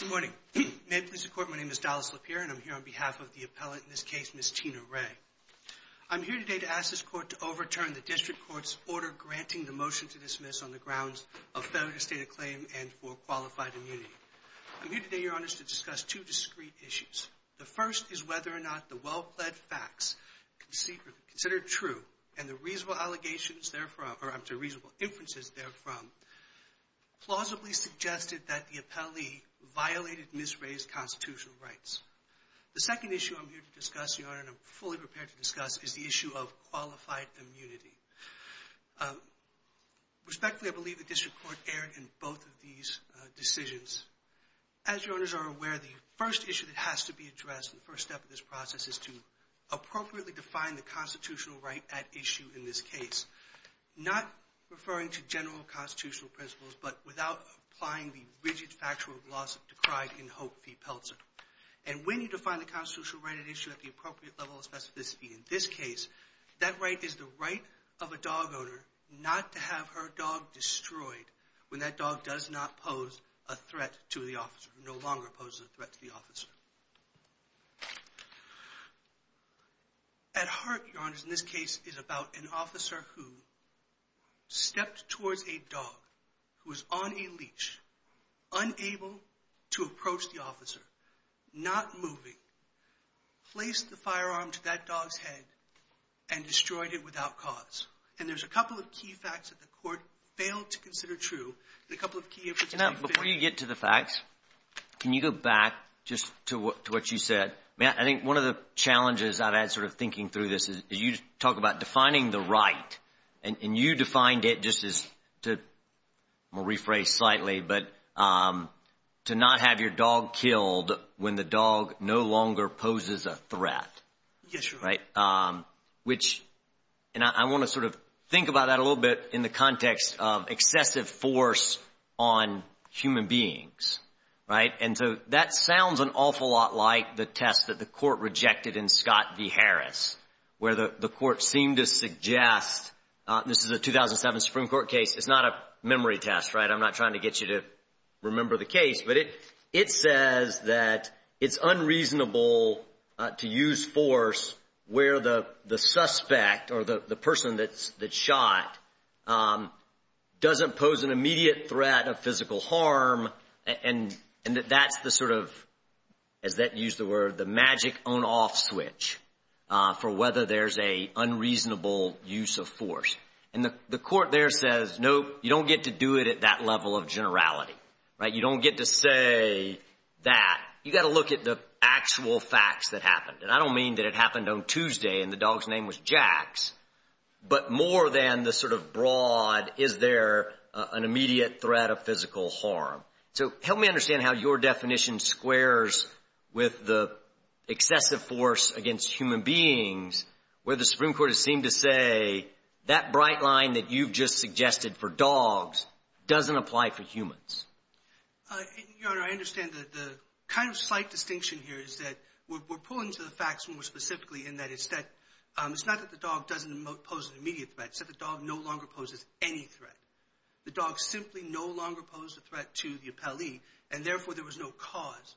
Good morning. May it please the Court, my name is Dallas Lapierre and I'm here on behalf of the appellate in this case, Ms. Tina Ray. I'm here today to ask this Court to overturn the District Court's order granting the motion to dismiss on the grounds of failure to state a claim and for qualified immunity. I'm here today, Your Honors, to discuss two discrete issues. The first is whether or not the well-pled facts considered true and the reasonable allegations therefrom, or I'm sorry, reasonable inferences therefrom, plausibly suggested that the appellee violated Ms. Ray's constitutional rights. The second issue I'm here to discuss, Your Honor, and I'm fully prepared to discuss is the issue of qualified immunity. Respectfully, I believe the District Court erred in both of these decisions. As Your Honors are aware, the first issue that has to be addressed, the first step of this process is to appropriately define the constitutional right at issue in this case. Not referring to general constitutional principles, but without applying the rigid factual gloss of decried in Hope v. Peltzer. And when you define the constitutional right at issue at the appropriate level of specificity in this case, that right is the right of a dog owner not to have her dog destroyed when that dog does not pose a threat to the officer, no longer poses a threat to the officer. At heart, Your Honors, in this case is about an officer who stepped towards a dog who was on a leash, unable to approach the officer, not moving, placed the firearm to that dog's head and destroyed it without cause. And there's a couple of key facts that the court failed to consider true, and a couple of key efforts to be failed. Before you get to the facts, can you go back just to what you said? I mean, I think one of the challenges I've had sort of thinking through this is you talk about defining the right, and you defined it just as, to rephrase slightly, but to not have your dog killed when the dog no longer poses a threat. Yes, Your Honor. Right? Which, and I want to sort of think about that a little bit in the context of excessive force on human beings, right? And so that sounds an awful lot like the test that the court rejected in Scott v. Harris, where the court seemed to suggest, this is a 2007 Supreme Court case, it's not a memory test, right? I'm not trying to get you to where the suspect or the person that shot doesn't pose an immediate threat of physical harm, and that that's the sort of, as that used the word, the magic on-off switch for whether there's an unreasonable use of force. And the court there says, no, you don't get to do it at that level of generality, right? You don't get to say that. You got to look at the actual facts that happened. And I don't mean that it happened on Tuesday and the dog's name was Jax, but more than the sort of broad, is there an immediate threat of physical harm. So help me understand how your definition squares with the excessive force against human beings, where the Supreme Court has seemed to say, that bright line that you've just suggested for dogs doesn't apply for humans. Your Honor, I understand that the kind of slight distinction here is that we're pulling to the facts more specifically in that it's not that the dog doesn't pose an immediate threat, it's that the dog no longer poses any threat. The dog simply no longer posed a threat to the appellee, and therefore there was no cause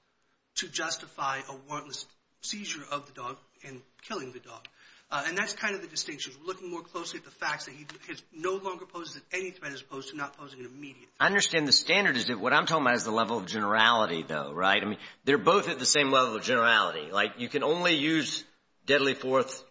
to justify a warrantless seizure of the dog and killing the dog. And that's kind of the distinction. We're looking more closely at the fact that he no longer poses any threat as opposed to not posing an immediate threat. I understand the standard is that what I'm talking about is the level of generality, though, right? I mean, they're both at the same level of generality. Like, you can only use deadly force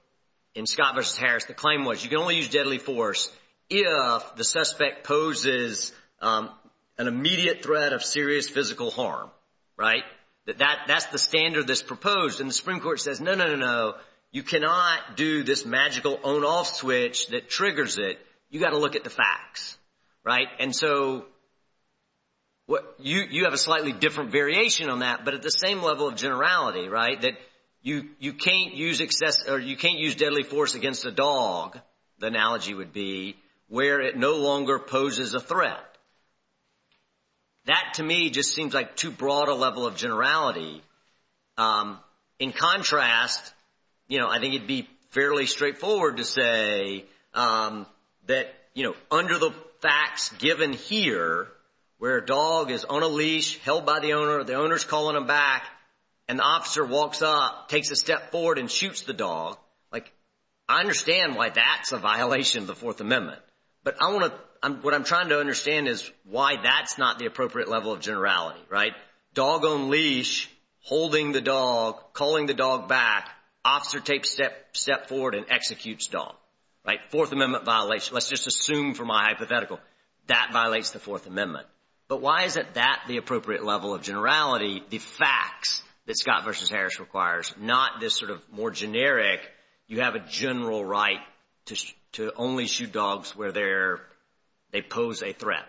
in Scott v. Harris, the claim was, you can only use deadly force if the suspect poses an immediate threat of serious physical harm, right? That that's the standard that's proposed. And the Supreme Court says, no, no, no, no, you cannot do this magical on-off switch that triggers it. You've got to look at the facts, right? And so you have a slightly different variation on that, but at the same level of generality, right, that you can't use deadly force against a dog, the analogy would be, where it no longer poses a threat. That, to me, just seems like too broad a level of generality. In contrast, you know, I think it'd be fairly straightforward to say that, you know, under the facts given here, where a dog is on a leash, held by the owner, the owner's calling him back, and the officer walks up, takes a step forward, and shoots the dog. Like, I understand why that's a violation of the Fourth Amendment, but I want to, what I'm trying to understand is why that's not the appropriate level of generality, right? Dog on leash, holding the dog, calling the dog back, officer takes a step forward and executes dog, right? Fourth Amendment violation, let's just assume for my hypothetical, that violates the Fourth Amendment. But why is it that the appropriate level of generality, the facts, that Scott v. Harris requires, not this sort of more generic, you have a general right to only shoot dogs where they're, they pose a threat?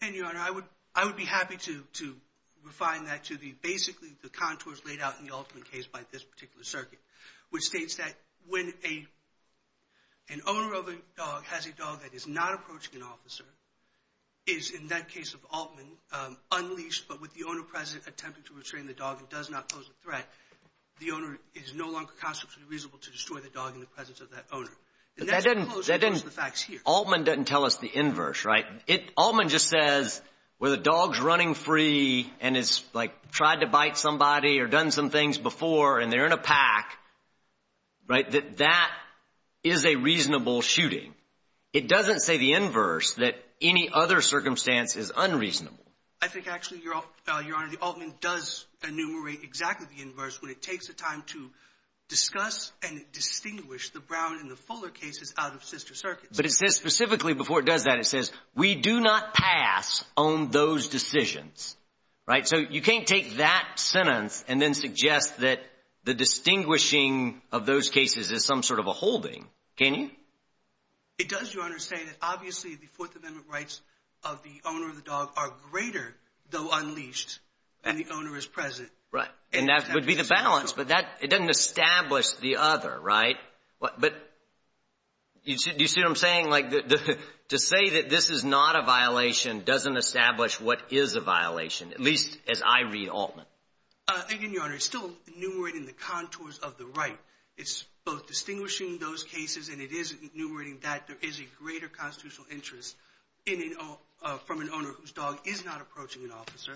And, Your Honor, I would, I would be happy to, to refine that to the, basically the contours laid out in the Altman case by this particular circuit, which states that when a, an owner of a dog has a dog that is not approaching an officer, is, in that case of Altman, unleashed, but with the owner present attempting to restrain the dog and does not pose a threat, the owner is no longer constitutively reasonable to destroy the dog in the presence of that owner. But that doesn't, that doesn't, Altman doesn't tell us the inverse, right? It, Altman just says, where the dog's running free and has, like, tried to bite somebody or done some things before and they're in a pack, right, that that is a reasonable shooting. It doesn't say the inverse, that any other circumstance is unreasonable. I think actually, Your Honor, the Altman does enumerate exactly the inverse when it takes the time to discuss and distinguish the Brown and the Fuller cases out of sister circuits. But it says specifically, before it does that, it says, we do not pass on those decisions, right? So you can't take that sentence and then suggest that the distinguishing of those cases is some sort of a holding, can you? It does, Your Honor, say that obviously the Fourth Amendment rights of the owner of the dog are greater, though unleashed, when the balance, but that, it doesn't establish the other, right? But, you see what I'm saying? Like, to say that this is not a violation doesn't establish what is a violation, at least as I read Altman. Again, Your Honor, it's still enumerating the contours of the right. It's both distinguishing those cases and it is enumerating that there is a greater constitutional interest in, from an owner whose dog is not approaching an officer,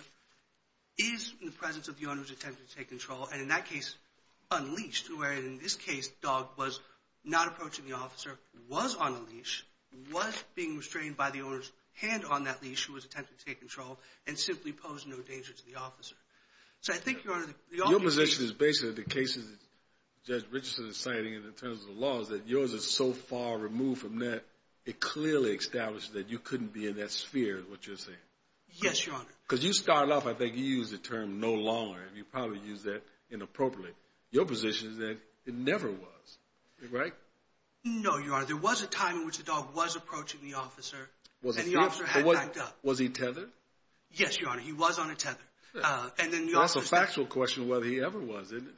is in the presence of the owner's attempt to take control, and in that case, unleashed, where in this case, the dog was not approaching the officer, was on a leash, was being restrained by the owner's hand on that leash, who was attempting to take control, and simply posed no danger to the officer. So I think, Your Honor, the officer... Your position is basically the cases that Judge Richardson is citing in terms of the laws, that yours is so far removed from that, it clearly establishes that you couldn't be in that sphere, is what you're saying? Yes, Your Honor. Because you started off, I think you used the term, no longer, and you probably used that inappropriately. Your position is that it never was, right? No, Your Honor. There was a time in which the dog was approaching the officer and the officer had backed up. Was he tethered? Yes, Your Honor. He was on a tether. That's a factual question whether he ever was, isn't it?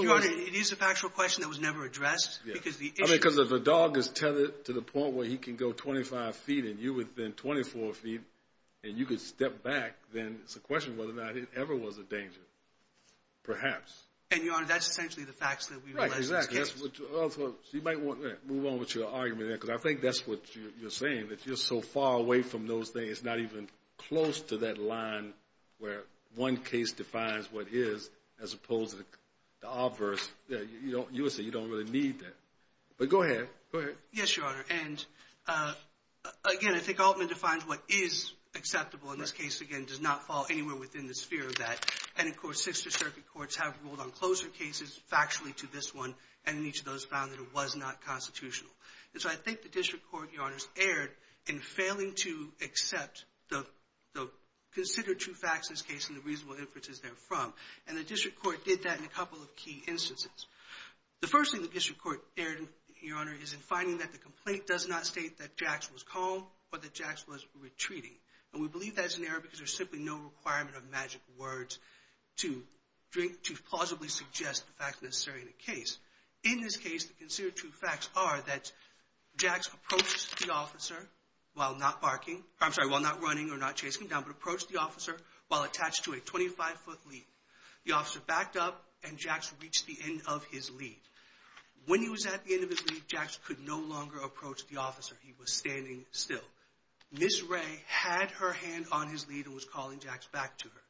Your Honor, it is a factual question that was never addressed because the issue... I mean, because if a dog is tethered to the point where he can go 25 feet and you within 24 feet and you could step back, then it's a question whether or not it ever was a danger. Perhaps. And, Your Honor, that's essentially the facts that we realize in this case. Right. Exactly. That's what you... You might want to move on with your argument there because I think that's what you're saying, that you're so far away from those things, not even close to that line where one case defines what is as opposed to the obverse. You would say you don't really need that. But go ahead. Go ahead. Yes, Your Honor. And, again, I think Altman defines what is acceptable. And this case, again, does not fall anywhere within the sphere of that. And, of course, Sixth Circuit courts have ruled on closer cases factually to this one. And each of those found that it was not constitutional. And so I think the district court, Your Honors, erred in failing to accept the considered true facts in this case and the reasonable inferences therefrom. And the district court did that in a couple of key instances. The first thing the district court erred in, Your Honor, is in finding that the complaint does not state that Jax was calm or that Jax was retreating. And we believe that's an error because there's simply no requirement of magic words to drink...to plausibly suggest the facts necessary in a case. In this case, the considered true facts are that Jax approaches the officer while not barking... I'm sorry, while not running or not chasing him down, but approached the officer while attached to a 25-foot lead. The officer backed up and Jax reached the end of his lead. When he was at the end of his lead, Jax could no longer approach the officer. He was standing still. Ms. Ray had her hand on his lead and was calling Jax back to her.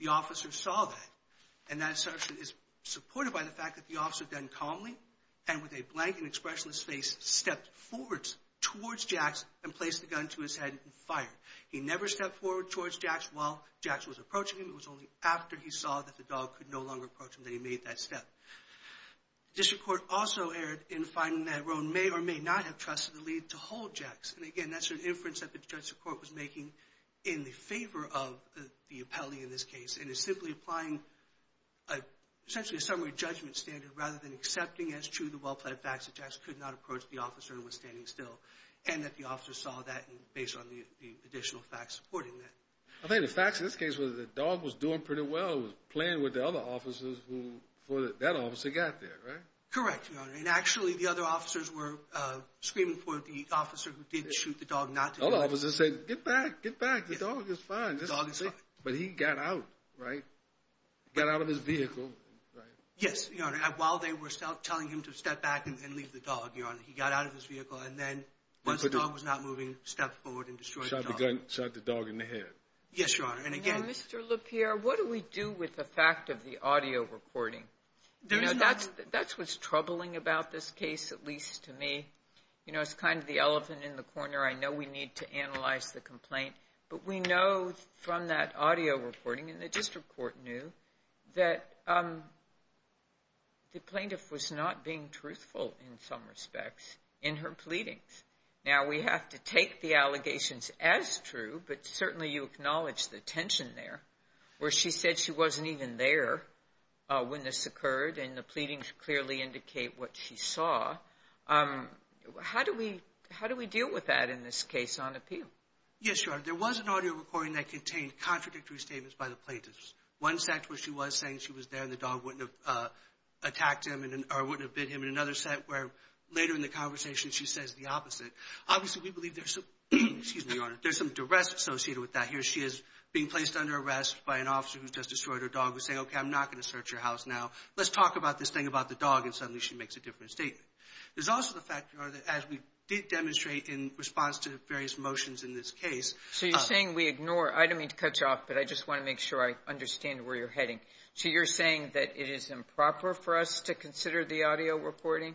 The officer saw that. And that assertion is supported by the fact that the officer then calmly and with a blank and expressionless face stepped forward towards Jax and placed the gun to his head and fired. He never stepped forward towards Jax while Jax was approaching him. It was only after he saw that the dog could no longer approach him that he made that step. The district court also erred in finding that Rhone may or may not have trusted the lead to hold Jax. And, again, that's an inference that the district court was making in the favor of the appellee in this case and is simply applying essentially a summary judgment standard rather than accepting as true the well-plaid facts that Jax could not approach the officer and was standing still and that the officer saw that based on the additional facts supporting that. I think the facts in this case was that the dog was doing pretty well. It was playing with the other officers before that officer got there, right? Correct, Your Honor. And, actually, the other officers were screaming for the officer who did shoot the dog not to die. The other officers said, Get back, get back. The dog is fine. The dog is fine. But he got out, right? Got out of his vehicle, right? Yes, Your Honor. While they were telling him to step back and leave the dog, Your Honor, he got out of his vehicle and then, once the dog was not moving, stepped forward and destroyed the dog. He shot the dog in the head. Yes, Your Honor. Now, Mr. LaPierre, what do we do with the fact of the audio recording? You know, that's what's troubling about this case, at least to me. You know, it's kind of the elephant in the corner. I know we need to analyze the complaint. But we know from that audio recording, and the district court knew, that the plaintiff was not being truthful in some respects in her pleadings. Now, we have to take the allegations as true, but certainly you acknowledge the tension there, where she said she wasn't even there when this occurred, and the pleadings clearly indicate what she saw. How do we deal with that in this case on appeal? Yes, Your Honor. There was an audio recording that contained contradictory statements by the plaintiffs. One set was she was saying she was there and the dog wouldn't have attacked him or wouldn't have bit him. And another set where later in the conversation she says the opposite. Obviously, we believe there's some duress associated with that. Here she is being placed under arrest by an officer who's just destroyed her dog who's saying, okay, I'm not going to search your house now. Let's talk about this thing about the dog. And suddenly she makes a different statement. There's also the fact, Your Honor, that as we did demonstrate in response to various motions in this case. So you're saying we ignore. I don't mean to cut you off, but I just want to make sure I understand where you're heading. So you're saying that it is improper for us to consider the audio recording?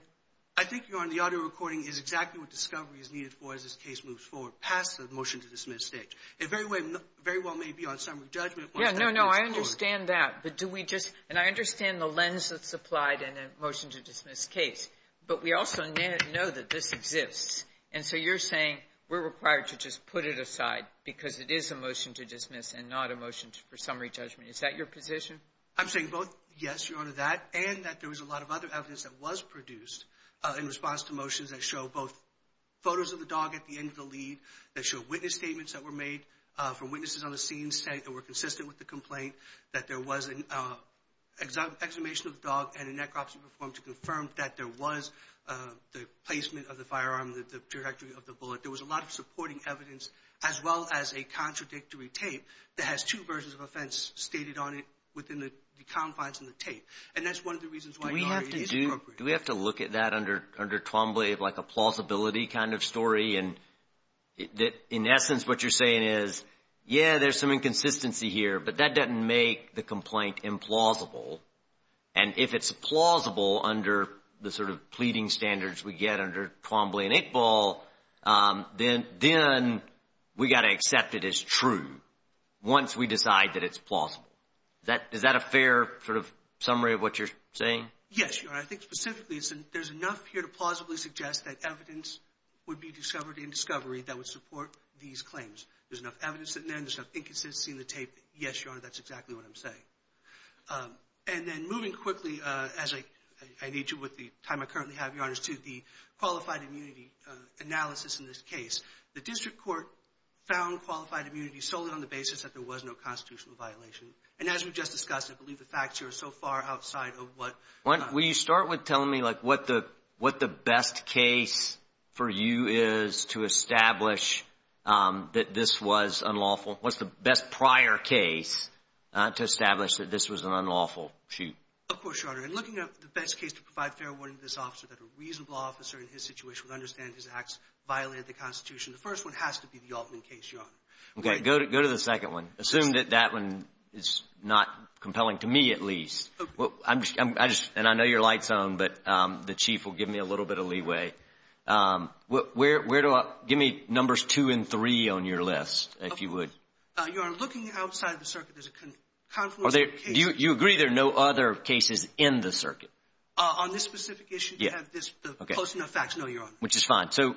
I think, Your Honor, the audio recording is exactly what discovery is needed for as this case moves forward, past the motion to dismiss stage. It very well may be on summary judgment. Yeah, no, no, I understand that. But do we just – and I understand the lens that's applied in a motion to dismiss case. But we also know that this exists. And so you're saying we're required to just put it aside because it is a motion to dismiss and not a motion for summary judgment. Is that your position? I'm saying both yes, Your Honor, that, and that there was a lot of other evidence that was produced in response to motions that show both photos of the dog at the end of the lead, that show witness statements that were made from witnesses on the scene saying they were consistent with the complaint, that there was an exhumation of the dog and a necropsy performed to confirm that there was the placement of the firearm, the trajectory of the bullet. There was a lot of supporting evidence as well as a contradictory tape that has two versions of offense stated on it within the confines of the tape. And that's one of the reasons why it is appropriate. Do we have to look at that under Twombly like a plausibility kind of story and in essence what you're saying is, yeah, there's some inconsistency here, but that doesn't make the complaint implausible. And if it's plausible under the sort of pleading standards we get under Twombly and Eight Ball, then we've got to accept it as true once we decide that it's plausible. Is that a fair sort of summary of what you're saying? Yes, Your Honor. I think specifically there's enough here to plausibly suggest that evidence would be discovered in discovery that would support these claims. There's enough evidence in there and there's enough inconsistency in the tape. Yes, Your Honor, that's exactly what I'm saying. And then moving quickly as I need to with the time I currently have, Your Honor, is to the qualified immunity analysis in this case. The district court found qualified immunity solely on the basis that there was no constitutional violation. And as we just discussed, I believe the facts here are so far outside of what— Will you start with telling me what the best case for you is to establish that this was unlawful? What's the best prior case to establish that this was an unlawful shoot? Of course, Your Honor. In looking at the best case to provide fair warning to this officer that a reasonable officer in his situation would understand his acts violated the Constitution, the first one has to be the Altman case, Your Honor. Okay. Go to the second one. Assume that that one is not compelling to me at least. And I know your light's on, but the Chief will give me a little bit of leeway. Where do I—give me numbers two and three on your list, if you would. Your Honor, looking outside the circuit, there's a confluence of cases— Do you agree there are no other cases in the circuit? On this specific issue, you have this posting of facts. No, Your Honor. Which is fine. So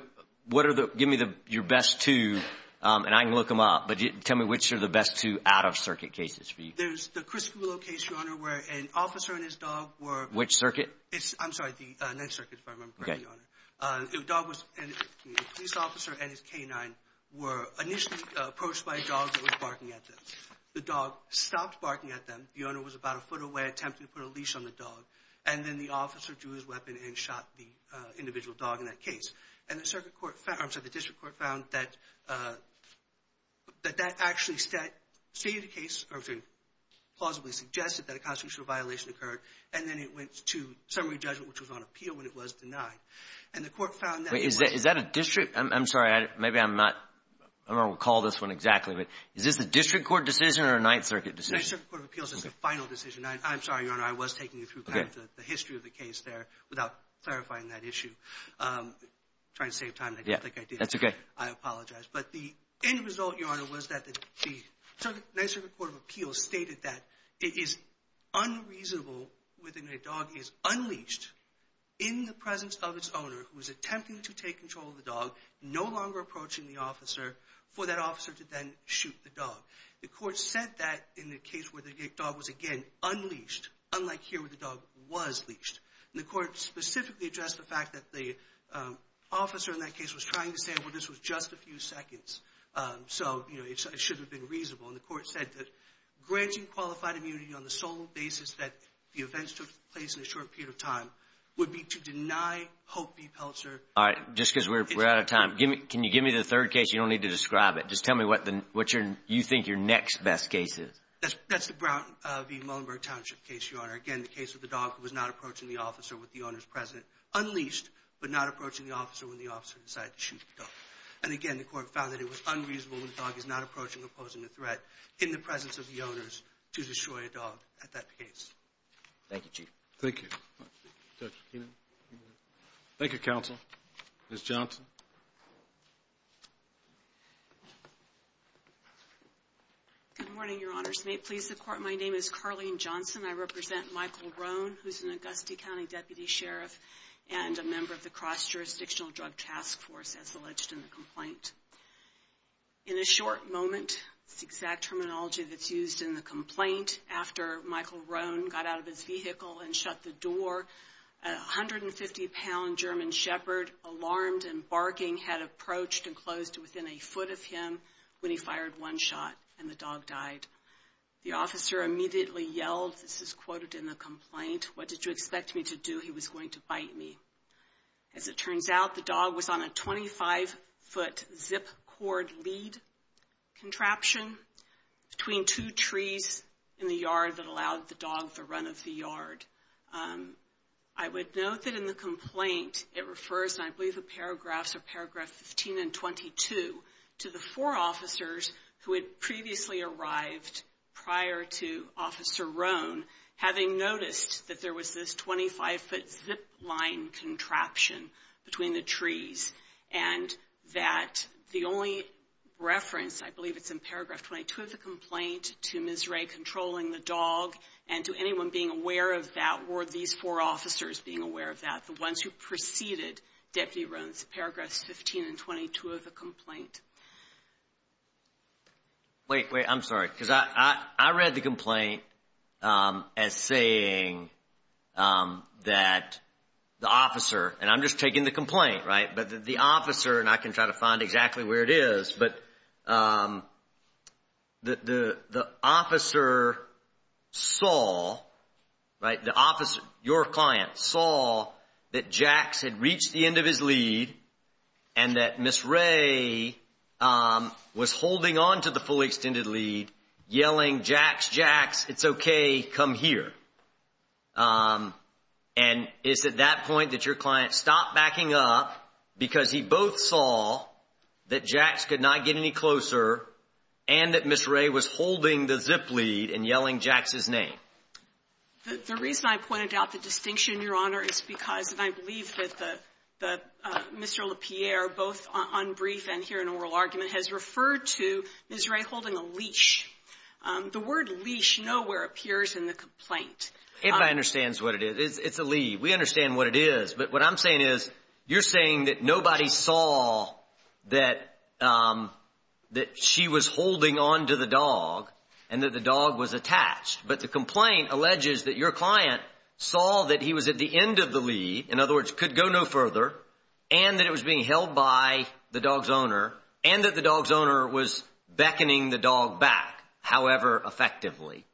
what are the—give me your best two, and I can look them up. But tell me which are the best two out-of-circuit cases for you. There's the Crisco case, Your Honor, where an officer and his dog were— Which circuit? I'm sorry, the 9th Circuit, if I remember correctly, Your Honor. Okay. The police officer and his canine were initially approached by a dog that was barking at them. The dog stopped barking at them. The owner was about a foot away, attempted to put a leash on the dog. And then the officer drew his weapon and shot the individual dog in that case. And the circuit court found—I'm sorry, the district court found that that actually stated a case— or I'm sorry, plausibly suggested that a constitutional violation occurred. And then it went to summary judgment, which was on appeal when it was denied. And the court found that— Wait, is that a district—I'm sorry, maybe I'm not—I don't recall this one exactly. But is this a district court decision or a 9th Circuit decision? The 9th Circuit Court of Appeals is the final decision. I'm sorry, Your Honor, I was taking you through kind of the history of the case there without clarifying that issue. I'm trying to save time, and I don't think I did. That's okay. I apologize. But the end result, Your Honor, was that the 9th Circuit Court of Appeals stated that it is unreasonable when a dog is unleashed in the presence of its owner who is attempting to take control of the dog, no longer approaching the officer, for that officer to then shoot the dog. The court said that in the case where the dog was, again, unleashed, unlike here where the dog was leashed. And the court specifically addressed the fact that the officer in that case was trying to say, well, this was just a few seconds, so it should have been reasonable. And the court said that granting qualified immunity on the sole basis that the events took place in a short period of time would be to deny Hope v. Peltzer— All right, just because we're out of time, can you give me the third case? You don't need to describe it. Just tell me what you think your next best case is. That's the Brown v. Muhlenberg Township case, Your Honor. Again, the case of the dog was not approaching the officer with the owner's present unleashed but not approaching the officer when the officer decided to shoot the dog. And again, the court found that it was unreasonable when the dog is not approaching or posing a threat in the presence of the owners to destroy a dog at that case. Thank you, Chief. Thank you. Dr. Keenan. Thank you, Counsel. Ms. Johnson. Good morning, Your Honors. May it please the Court, my name is Carlene Johnson. I represent Michael Rohn, who's an Augusta County Deputy Sheriff and a member of the Cross-Jurisdictional Drug Task Force, as alleged in the complaint. In a short moment, the exact terminology that's used in the complaint, after Michael Rohn got out of his vehicle and shut the door, a 150-pound German Shepherd, alarmed and barking, had approached and closed within a foot of him when he fired one shot and the dog died. The officer immediately yelled, this is quoted in the complaint, What did you expect me to do? He was going to bite me. As it turns out, the dog was on a 25-foot zip cord lead contraption between two trees in the yard that allowed the dog the run of the yard. I would note that in the complaint, it refers, and I believe the paragraphs are paragraph 15 and 22, to the four officers who had previously arrived prior to Officer Rohn having noticed that there was this 25-foot zip line contraption between the trees and that the only reference, I believe it's in paragraph 22 of the complaint, to Ms. Ray controlling the dog and to anyone being aware of that were these four officers being aware of that, the ones who preceded Deputy Rohn's paragraphs 15 and 22 of the complaint. Wait, wait, I'm sorry, because I read the complaint as saying that the officer, and I'm just taking the complaint, right, but the officer, and I can try to find exactly where it is, but the officer saw, right, the officer, your client saw that Jax had reached the end of his lead and that Ms. Ray was holding on to the fully extended lead, yelling, Jax, Jax, it's okay, come here. And it's at that point that your client stopped backing up because he both saw that Jax could not get any closer and that Ms. Ray was holding the zip lead and yelling Jax's name. The reason I pointed out the distinction, Your Honor, is because, and I believe that Mr. LaPierre, both on brief and here in oral argument, has referred to Ms. Ray holding a leash. The word leash nowhere appears in the complaint. Everybody understands what it is. It's a lead. We understand what it is, but what I'm saying is, you're saying that nobody saw that she was holding on to the dog and that the dog was attached, but the complaint alleges that your client saw that he was at the end of the lead, in other words, could go no further, and that it was being held by the dog's owner, and that the dog's owner was beckoning the dog back, however effectively.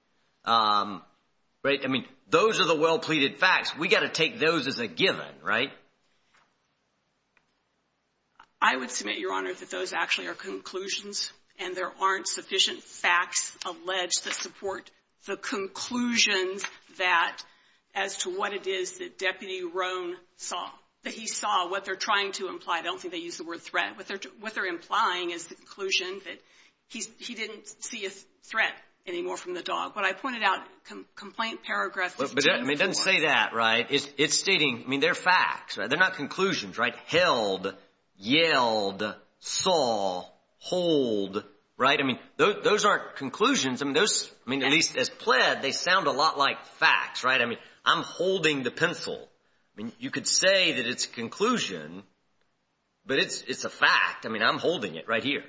Right? I mean, those are the well-pleaded facts. We've got to take those as a given, right? I would submit, Your Honor, that those actually are conclusions, and there aren't sufficient facts alleged to support the conclusions that, as to what it is that Deputy Roan saw, that he saw, what they're trying to imply. I don't think they use the word threat. What they're implying is the conclusion that he didn't see a threat anymore from the dog. What I pointed out, complaint paragraph is painful. But it doesn't say that, right? It's stating, I mean, they're facts. They're not conclusions, right? Held, yelled, saw, hold, right? I mean, those aren't conclusions. I mean, at least as pled, they sound a lot like facts, right? I mean, I'm holding the pencil. I mean, you could say that it's a conclusion, but it's a fact. I mean, I'm holding it right here.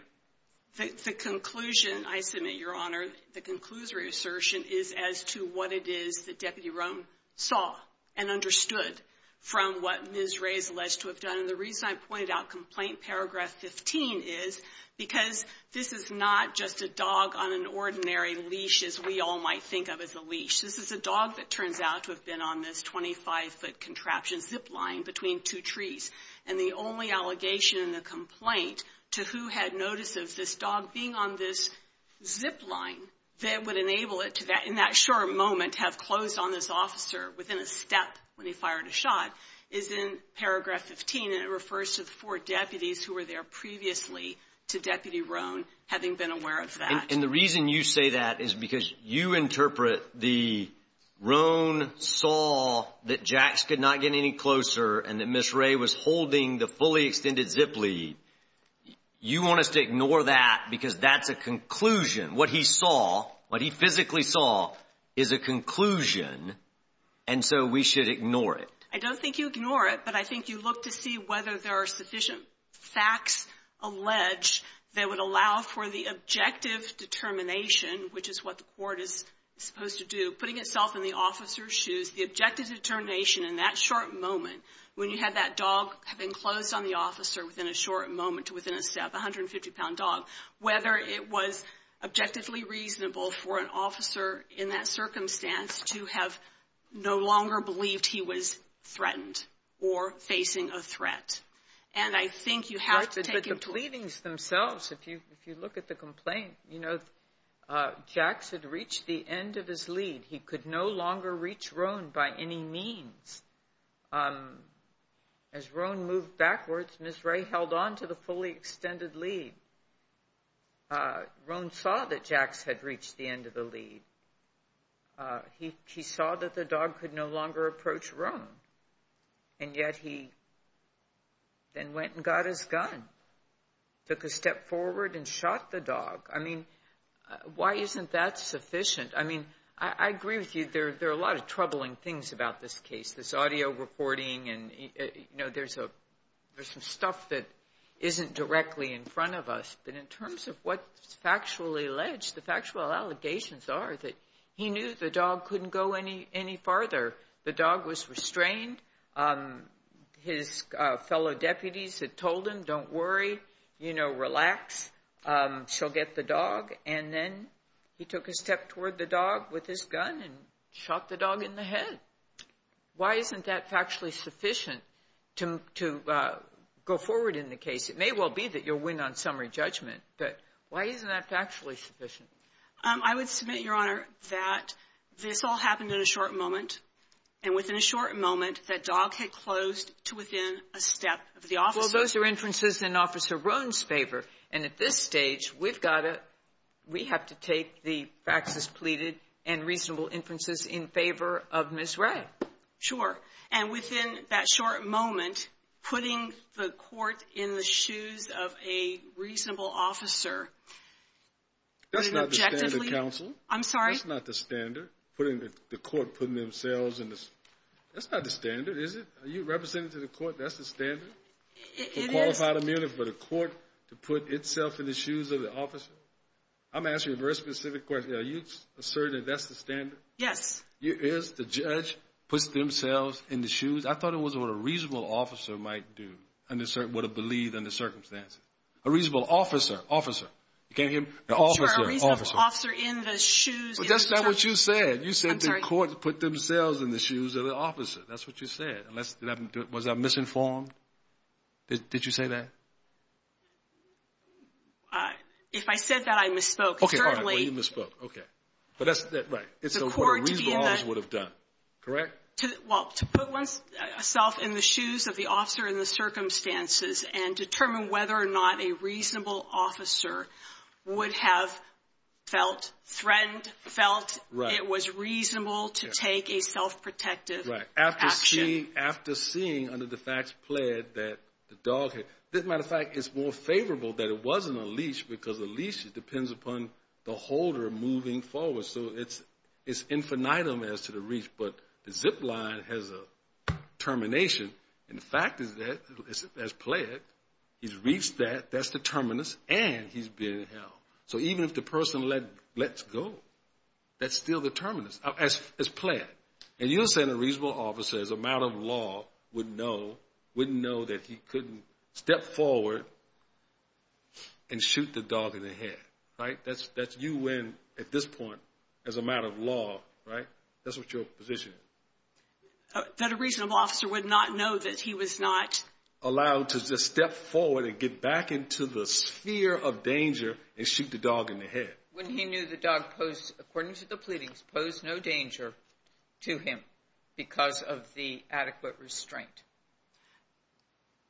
The conclusion, I submit, Your Honor, the conclusory assertion is as to what it is that Deputy Roan saw and understood from what Ms. Ray is alleged to have done. And the reason I pointed out complaint paragraph 15 is because this is not just a dog on an ordinary leash, as we all might think of as a leash. This is a dog that turns out to have been on this 25-foot contraption zip line between two trees. And the only allegation in the complaint to who had notice of this dog being on this zip line that would enable it to, in that short moment, have closed on this officer within a step when he fired a shot is in paragraph 15. And it refers to the four deputies who were there previously to Deputy Roan, having been aware of that. And the reason you say that is because you interpret the Roan saw that Jax could not get any closer and that Ms. Ray was holding the fully extended zip lead. You want us to ignore that because that's a conclusion. What he saw, what he physically saw, is a conclusion, and so we should ignore it. I don't think you ignore it, but I think you look to see whether there are sufficient facts alleged that would allow for the objective determination, which is what the court is supposed to do, putting itself in the officer's shoes, the objective determination in that short moment when you had that dog have been closed on the officer within a short moment to within a step, 150-pound dog, whether it was objectively reasonable for an officer in that circumstance to have no longer believed he was threatened or facing a threat. And I think you have to take into account... But the pleadings themselves, if you look at the complaint, you know, Jax had reached the end of his lead. He could no longer reach Roan by any means. As Roan moved backwards, Ms. Ray held on to the fully extended lead. Roan saw that Jax had reached the end of the lead. He saw that the dog could no longer approach Roan, and yet he then went and got his gun, took a step forward and shot the dog. I mean, why isn't that sufficient? I mean, I agree with you. There are a lot of troubling things about this case, this audio recording, and, you know, there's some stuff that isn't directly in front of us, but in terms of what's factually alleged, the factual allegations are that he knew the dog couldn't go any farther. The dog was restrained. His fellow deputies had told him, don't worry, you know, relax. She'll get the dog. And then he took a step toward the dog with his gun and shot the dog in the head. Why isn't that factually sufficient to go forward in the case? It may well be that you'll win on summary judgment, but why isn't that factually sufficient? I would submit, Your Honor, that this all happened in a short moment. And within a short moment, that dog had closed to within a step of the officer. Well, those are inferences in Officer Roan's favor. And at this stage, we've got to – we have to take the facts as pleaded and reasonable inferences in favor of Ms. Ray. Sure. And within that short moment, putting the court in the shoes of a reasonable officer – That's not the standard, counsel. I'm sorry? That's not the standard. Putting the court – putting themselves in the – that's not the standard, is it? Are you representing to the court that's the standard? It is. For qualified immunity, for the court to put itself in the shoes of the officer? I'm asking a very specific question. Are you asserting that that's the standard? Yes. It is? The judge puts themselves in the shoes? I thought it was what a reasonable officer might do, would have believed under circumstances. A reasonable officer. Officer. You can't hear me? Sure, a reasonable officer in the shoes of the judge. But that's not what you said. You said the court put themselves in the shoes of the officer. That's what you said. Unless – was I misinformed? Did you say that? If I said that, I misspoke. Okay, all right. Well, you misspoke. Okay. But that's – right. It's what a reasonable officer would have done. Correct? Well, to put oneself in the shoes of the officer in the circumstances and determine whether or not a reasonable officer would have felt threatened, felt it was reasonable to take a self-protective action. Right. After seeing under the facts pled that the dog had – as a matter of fact, it's more favorable that it wasn't a leash because a leash, it depends upon the holder moving forward. So it's infinitum as to the reach, but the zip line has a termination. And the fact is that, as pled, he's reached that. That's the terminus, and he's been held. So even if the person lets go, that's still the terminus, as pled. And you're saying a reasonable officer, as a matter of law, wouldn't know that he couldn't step forward and shoot the dog in the head. Right? That's you when, at this point, as a matter of law, right? That's what your position is. That a reasonable officer would not know that he was not. Allowed to just step forward and get back into the sphere of danger and shoot the dog in the head. When he knew the dog posed, according to the pleadings, posed no danger to him because of the adequate restraint.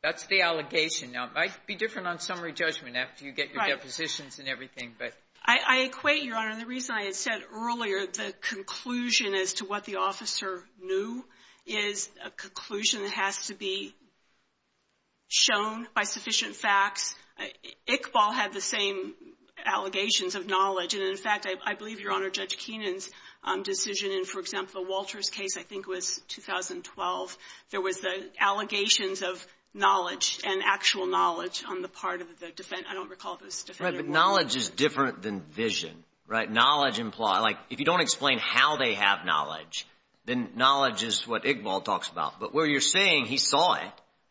That's the allegation. Now, it might be different on summary judgment after you get your depositions and everything. I equate, Your Honor, the reason I had said earlier, the conclusion as to what the officer knew is a conclusion that has to be shown by sufficient facts. Iqbal had the same allegations of knowledge. And, in fact, I believe, Your Honor, Judge Keenan's decision in, for example, Walter's case, I think it was 2012, there was the allegations of knowledge and actual knowledge on the part of the defendant. I don't recall if it was the defendant. Right, but knowledge is different than vision. Right? Knowledge implies, like, if you don't explain how they have knowledge, then knowledge is what Iqbal talks about. But what you're saying, he saw it.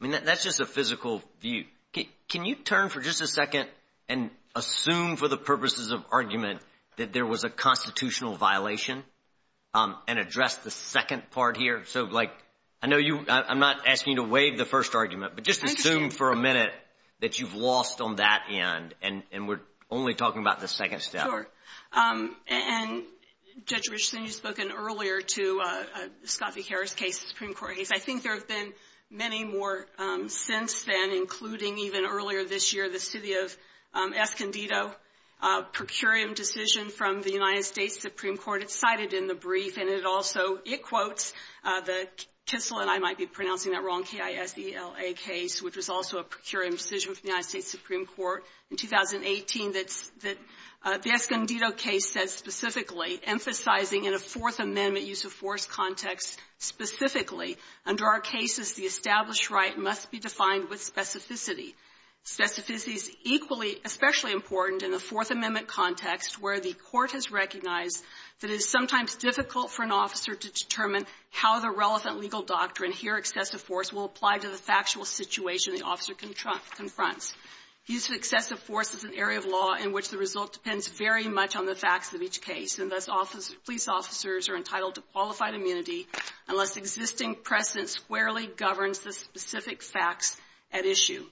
I mean, that's just a physical view. Can you turn for just a second and assume, for the purposes of argument, that there was a constitutional violation and address the second part here? So, like, I know I'm not asking you to waive the first argument, but just assume for a minute that you've lost on that end and we're only talking about the second step. Sure. And, Judge Richardson, you've spoken earlier to the Scott v. Harris case, the Supreme Court case. I think there have been many more since then, including even earlier this year, the city of Escondido procurium decision from the United States Supreme Court. It's cited in the brief, and it also quotes the Kissel, and I might be pronouncing that wrong, K-I-S-E-L-A case, which was also a procurium decision from the United States Supreme Court in 2018. The Escondido case says specifically, emphasizing in a Fourth Amendment use-of-force context specifically, under our cases, the established right must be defined with specificity. Specificity is equally, especially important in the Fourth Amendment context where the court has recognized that it is sometimes difficult for an officer to determine how the relevant legal doctrine, here excessive force, will apply to the factual situation the officer confronts. Use of excessive force is an area of law in which the result depends very much on the facts of each case, and thus police officers are entitled to qualified immunity unless existing precedent squarely governs the specific facts at issue.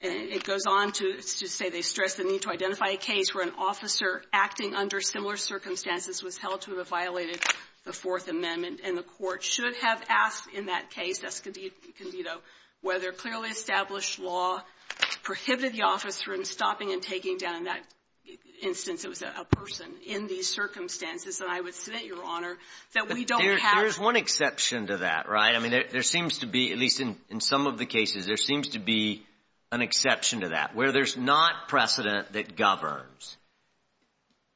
And it goes on to say they stress the need to identify a case where an officer acting under similar circumstances was held to have violated the Fourth Amendment, and the court should have asked in that case, Escondido, whether clearly established law prohibited the officer in stopping and taking down, in that instance, it was a person in these circumstances. And I would submit, Your Honor, that we don't have to do that. There seems to be, at least in some of the cases, there seems to be an exception to that. Where there's not precedent that governs,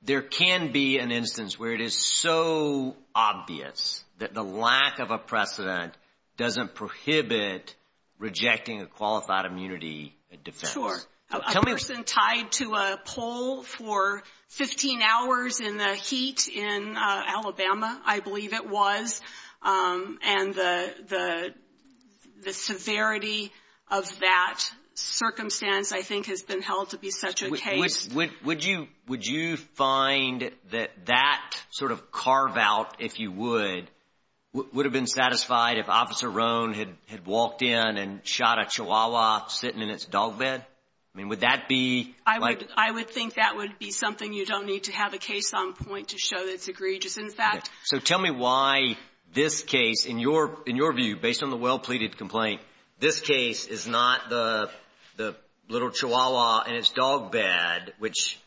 there can be an instance where it is so obvious that the lack of a precedent doesn't prohibit rejecting a qualified immunity defense. Sure. A person tied to a pole for 15 hours in the heat in Alabama, I believe it was, and the severity of that circumstance, I think, has been held to be such a case. Would you find that that sort of carve-out, if you would, would have been satisfied if Officer Rohn had walked in and shot a chihuahua sitting in its dog bed? I mean, would that be like – I would think that would be something you don't need to have a case on point to show that it's egregious. In fact – So tell me why this case, in your view, based on the well-pleaded complaint, this case is not the little chihuahua in its dog bed, which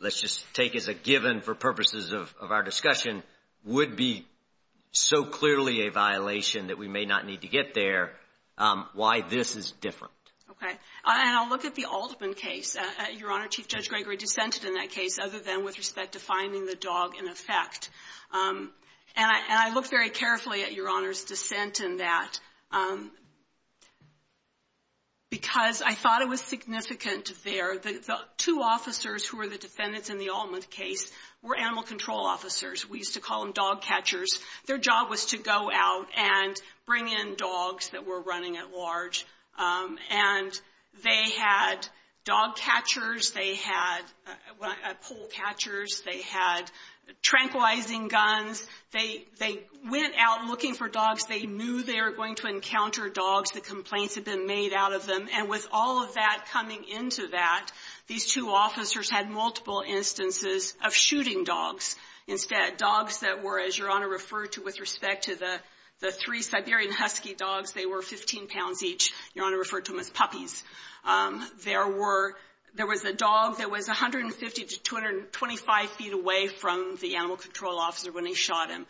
let's just take as a given for purposes of our discussion, would be so clearly a violation that we may not need to get there, why this is different. Okay. And I'll look at the Altman case. Your Honor, Chief Judge Gregory dissented in that case other than with respect to finding the dog in effect. And I looked very carefully at Your Honor's dissent in that, because I thought it was significant there. The two officers who were the defendants in the Altman case were animal control officers. We used to call them dog catchers. Their job was to go out and bring in dogs that were running at large. And they had dog catchers. They had pole catchers. They had tranquilizing guns. They went out looking for dogs. They knew they were going to encounter dogs. The complaints had been made out of them. And with all of that coming into that, these two officers had multiple instances of shooting dogs. Instead, dogs that were, as Your Honor referred to with respect to the three Siberian Husky dogs, they were 15 pounds each. Your Honor referred to them as puppies. There was a dog that was 150 to 225 feet away from the animal control officer when they shot him.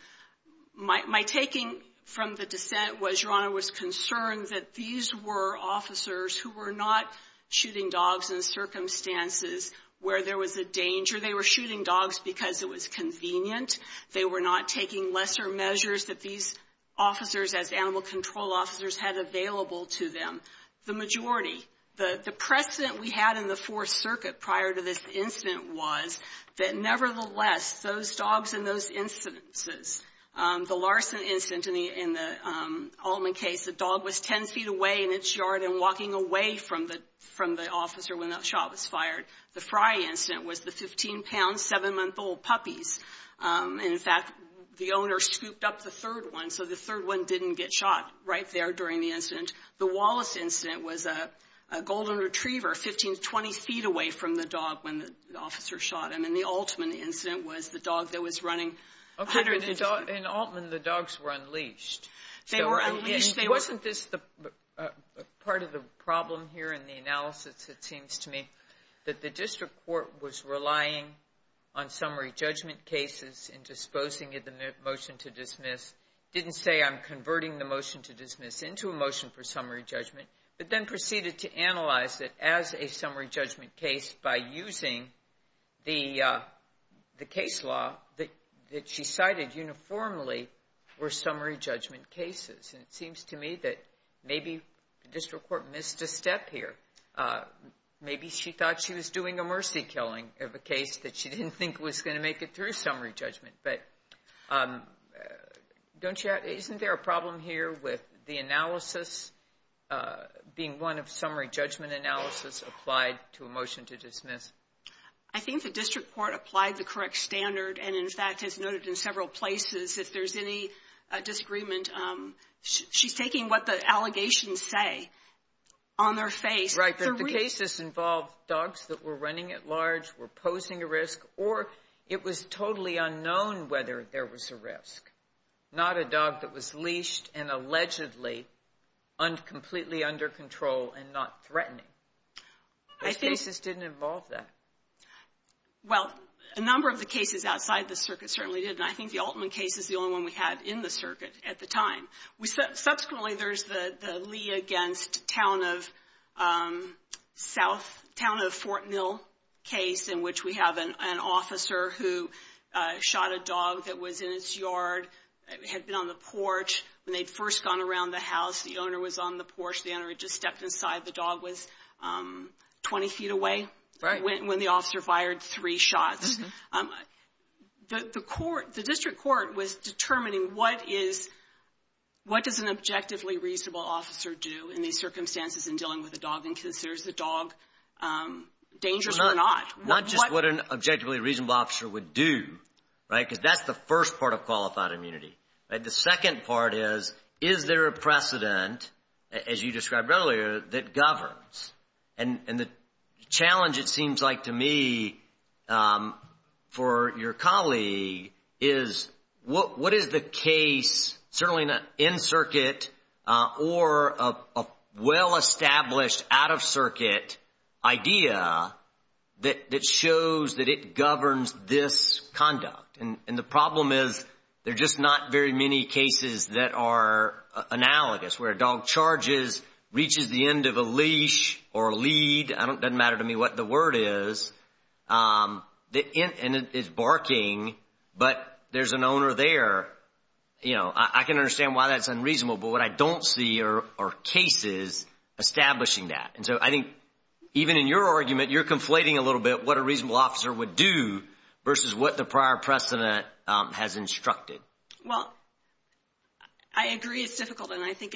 My taking from the dissent was Your Honor was concerned that these were officers who were not shooting dogs in circumstances where there was a danger. They were shooting dogs because it was convenient. They were not taking lesser measures that these officers, as animal control officers, had available to them. The majority, the precedent we had in the Fourth Circuit prior to this incident was that nevertheless, those dogs in those instances, the Larson incident in the Altman case, the dog was 10 feet away in its yard and walking away from the officer when that shot was fired. The Fry incident was the 15-pound, 7-month-old puppies. In fact, the owner scooped up the third one, so the third one didn't get shot right there during the incident. The Wallace incident was a Golden Retriever 15 to 20 feet away from the dog when the officer shot him. And the Altman incident was the dog that was running. In Altman, the dogs were unleashed. They were unleashed. And wasn't this part of the problem here in the analysis, it seems to me, that the district court was relying on summary judgment cases in disposing of the motion to dismiss, didn't say I'm converting the motion to dismiss into a motion for summary judgment, but then proceeded to analyze it as a summary judgment case by using the case law that she cited uniformly were summary judgment cases. And it seems to me that maybe the district court missed a step here. Maybe she thought she was doing a mercy killing of a case that she didn't think was going to make it through summary judgment. But isn't there a problem here with the analysis being one of summary judgment analysis applied to a motion to dismiss? I think the district court applied the correct standard and, in fact, has noted in several places if there's any disagreement. She's taking what the allegations say on their face. Right, but the cases involved dogs that were running at large, were posing a risk, or it was totally unknown whether there was a risk, not a dog that was leashed and allegedly completely under control and not threatening. Those cases didn't involve that. Well, a number of the cases outside the circuit certainly did, and I think the Altman case is the only one we had in the circuit at the time. Subsequently, there's the Lee against town of South, town of Fort Mill case in which we have an officer who shot a dog that was in its yard, had been on the porch when they'd first gone around the house. The owner was on the porch. The owner had just stepped inside. The dog was 20 feet away when the officer fired three shots. The district court was determining what does an objectively reasonable officer do in these circumstances in dealing with a dog and considers the dog dangerous or not. Not just what an objectively reasonable officer would do, right, because that's the first part of qualified immunity. The second part is, is there a precedent, as you described earlier, that governs? And the challenge, it seems like to me, for your colleague is what is the case, certainly in circuit or a well-established out-of-circuit idea that shows that it governs this conduct? And the problem is there are just not very many cases that are analogous where a dog charges, reaches the end of a leash or a lead. It doesn't matter to me what the word is, and it's barking, but there's an owner there. I can understand why that's unreasonable, but what I don't see are cases establishing that. And so I think even in your argument, you're conflating a little bit what a reasonable officer would do versus what the prior precedent has instructed. Well, I agree it's difficult, and I think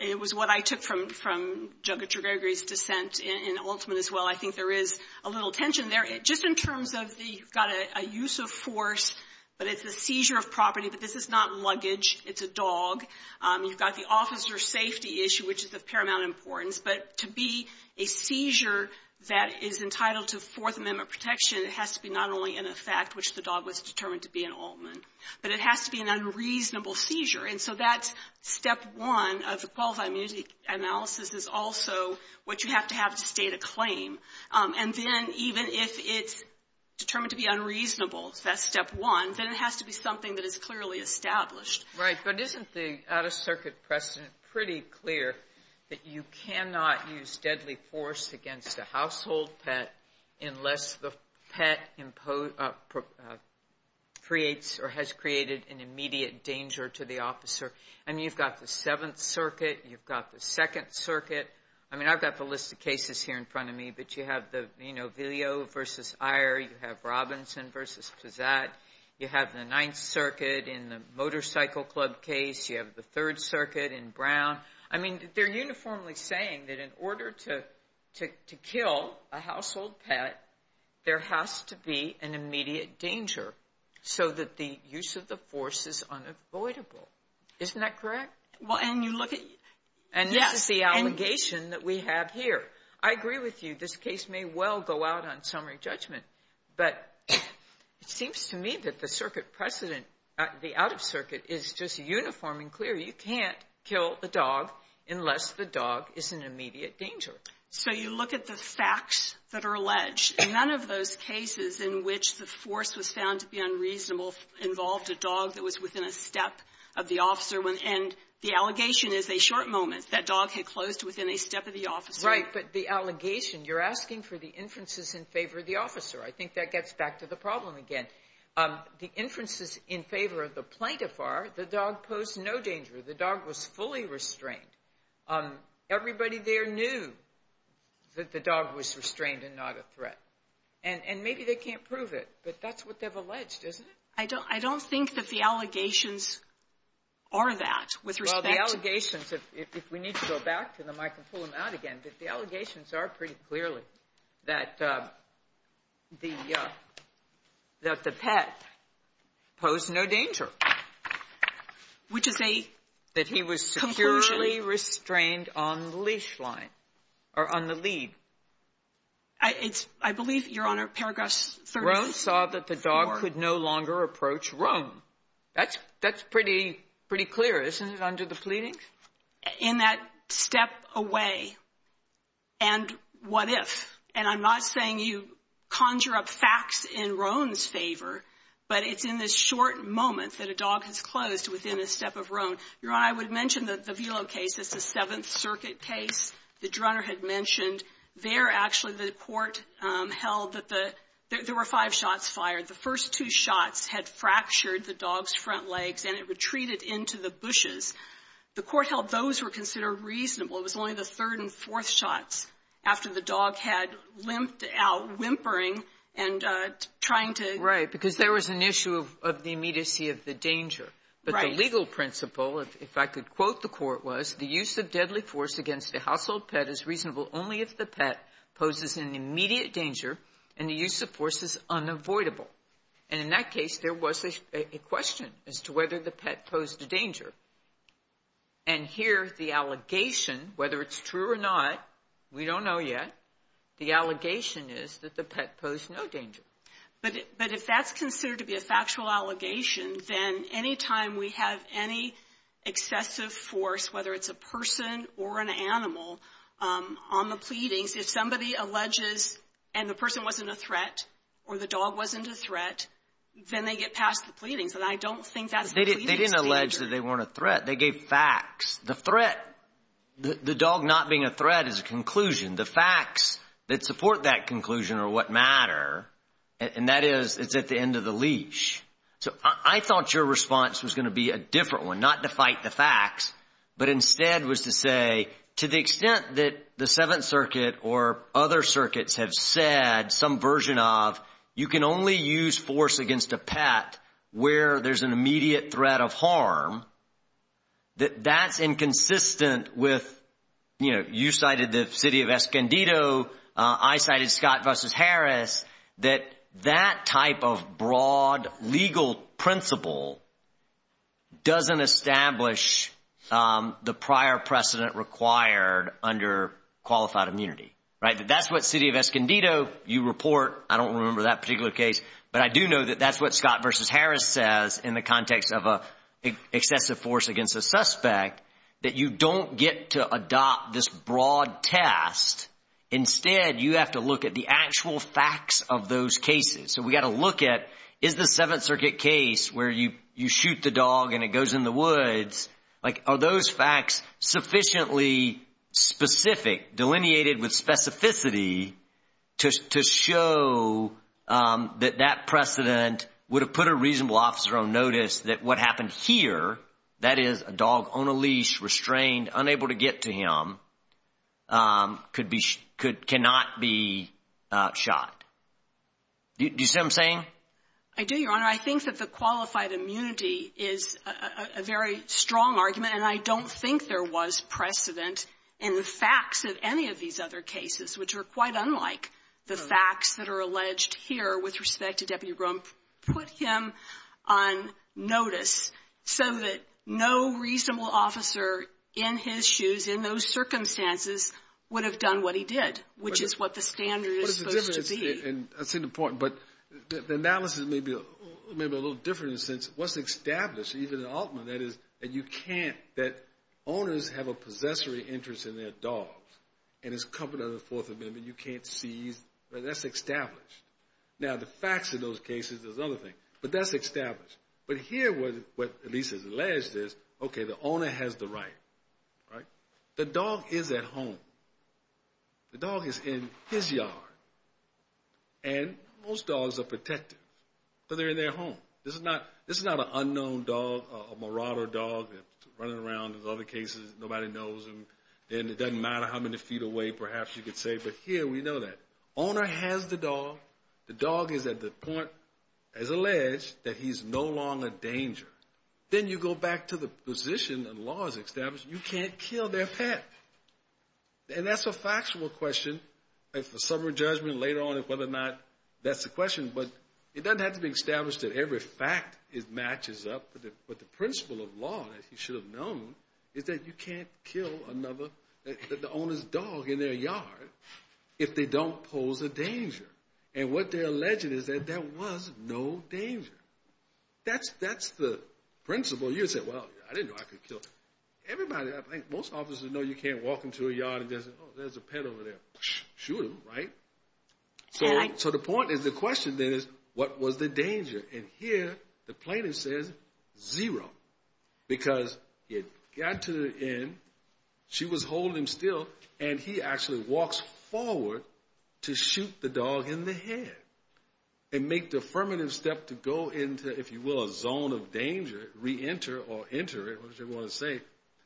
it was what I took from Junkerture Gregory's dissent in Altman as well. I think there is a little tension there. Just in terms of the you've got a use of force, but it's a seizure of property, but this is not luggage. It's a dog. You've got the officer safety issue, which is of paramount importance. But to be a seizure that is entitled to Fourth Amendment protection, it has to be not only in effect, which the dog was determined to be in Altman, but it has to be an unreasonable seizure. And so that's step one of the qualified immunity analysis is also what you have to have to state a claim. And then even if it's determined to be unreasonable, that's step one, then it has to be something that is clearly established. Right. But isn't the out-of-circuit precedent pretty clear that you cannot use deadly force against a household pet unless the pet creates or has created an immediate danger to the officer? I mean, you've got the Seventh Circuit. You've got the Second Circuit. I mean, I've got the list of cases here in front of me, but you have the, you know, Vileo v. Iyer. You have Robinson v. Pizzat. You have the Ninth Circuit in the Motorcycle Club case. You have the Third Circuit in Brown. I mean, they're uniformly saying that in order to kill a household pet, there has to be an immediate danger so that the use of the force is unavoidable. Isn't that correct? And this is the allegation that we have here. I agree with you. This case may well go out on summary judgment, but it seems to me that the out-of-circuit is just uniform and clear. You can't kill the dog unless the dog is in immediate danger. So you look at the facts that are alleged. None of those cases in which the force was found to be unreasonable involved a dog that was within a step of the officer. And the allegation is a short moment. That dog had closed within a step of the officer. Right, but the allegation, you're asking for the inferences in favor of the officer. I think that gets back to the problem again. The inferences in favor of the plaintiff are the dog posed no danger. The dog was fully restrained. Everybody there knew that the dog was restrained and not a threat. And maybe they can't prove it, but that's what they've alleged, isn't it? I don't think that the allegations are that with respect to the allegations. If we need to go back to them, I can pull them out again. But the allegations are pretty clearly that the pet posed no danger. Which is a conclusion. That he was securely restrained on the leash line or on the lead. I believe, Your Honor, paragraph 30. Roan saw that the dog could no longer approach Roan. That's pretty clear, isn't it, under the pleadings? In that step away. And what if? And I'm not saying you conjure up facts in Roan's favor. But it's in this short moment that a dog has closed within a step of Roan. Your Honor, I would mention the Velo case. It's the Seventh Circuit case that Drunner had mentioned. There, actually, the court held that there were five shots fired. The first two shots had fractured the dog's front legs and it retreated into the bushes. The court held those were considered reasonable. It was only the third and fourth shots after the dog had limped out, whimpering and trying to — Right. Because there was an issue of the immediacy of the danger. Right. But the legal principle, if I could quote the court, was, the use of deadly force against a household pet is reasonable only if the pet poses an immediate danger and the use of force is unavoidable. And in that case, there was a question as to whether the pet posed a danger. And here, the allegation, whether it's true or not, we don't know yet, the allegation is that the pet posed no danger. But if that's considered to be a factual allegation, then any time we have any excessive force, whether it's a person or an animal, on the pleadings, if somebody alleges and the person wasn't a threat or the dog wasn't a threat, then they get past the pleadings. And I don't think that's the pleading's danger. They didn't allege that they weren't a threat. They gave facts. The threat, the dog not being a threat is a conclusion. The facts that support that conclusion are what matter. And that is, it's at the end of the leash. So I thought your response was going to be a different one, not to fight the facts, but instead was to say, to the extent that the Seventh Circuit or other circuits have said some version of you can only use force against a pet where there's an immediate threat of harm, that that's inconsistent with, you know, you cited the city of Escondido, I cited Scott v. Harris, that that type of broad legal principle doesn't establish the prior precedent required under qualified immunity. Right? That that's what city of Escondido, you report. I don't remember that particular case. But I do know that that's what Scott v. Harris says in the context of excessive force against a suspect, that you don't get to adopt this broad test. Instead, you have to look at the actual facts of those cases. So we've got to look at, is the Seventh Circuit case where you shoot the dog and it goes in the woods, like, are those facts sufficiently specific, delineated with specificity to show that that precedent would have put a reasonable officer on notice that what happened here, that is a dog on a leash, restrained, unable to get to him, cannot be shot. Do you see what I'm saying? I do, Your Honor. I think that the qualified immunity is a very strong argument, and I don't think there was precedent in the facts of any of these other cases, which are quite unlike the facts that are alleged here with respect to Deputy Grom. Put him on notice so that no reasonable officer in his shoes, in those circumstances, would have done what he did, which is what the standard is supposed to be. But the analysis may be a little different in the sense it wasn't established even in Altman, that owners have a possessory interest in their dogs and it's covered under the Fourth Amendment. You can't seize. That's established. Now, the facts of those cases is another thing, but that's established. But here what at least is alleged is, okay, the owner has the right. The dog is at home. The dog is in his yard. And most dogs are protective because they're in their home. This is not an unknown dog, a marauder dog running around. In other cases, nobody knows him. And it doesn't matter how many feet away, perhaps, you could say. But here we know that. Owner has the dog. The dog is at the point, as alleged, that he's no longer a danger. Then you go back to the position the law has established. You can't kill their pet. And that's a factual question. It's a summary judgment later on whether or not that's the question. But it doesn't have to be established that every fact matches up. But the principle of law, as you should have known, is that you can't kill the owner's dog in their yard if they don't pose a danger. And what they're alleging is that there was no danger. That's the principle. You say, well, I didn't know I could kill everybody. I think most officers know you can't walk into a yard and just, oh, there's a pet over there, shoot him, right? So the point is, the question then is, what was the danger? And here the plaintiff says zero because he had got to the end, she was holding him still, and he actually walks forward to shoot the dog in the head and make the affirmative step to go into, if you will, a zone of danger, reenter or enter it, whatever you want to say.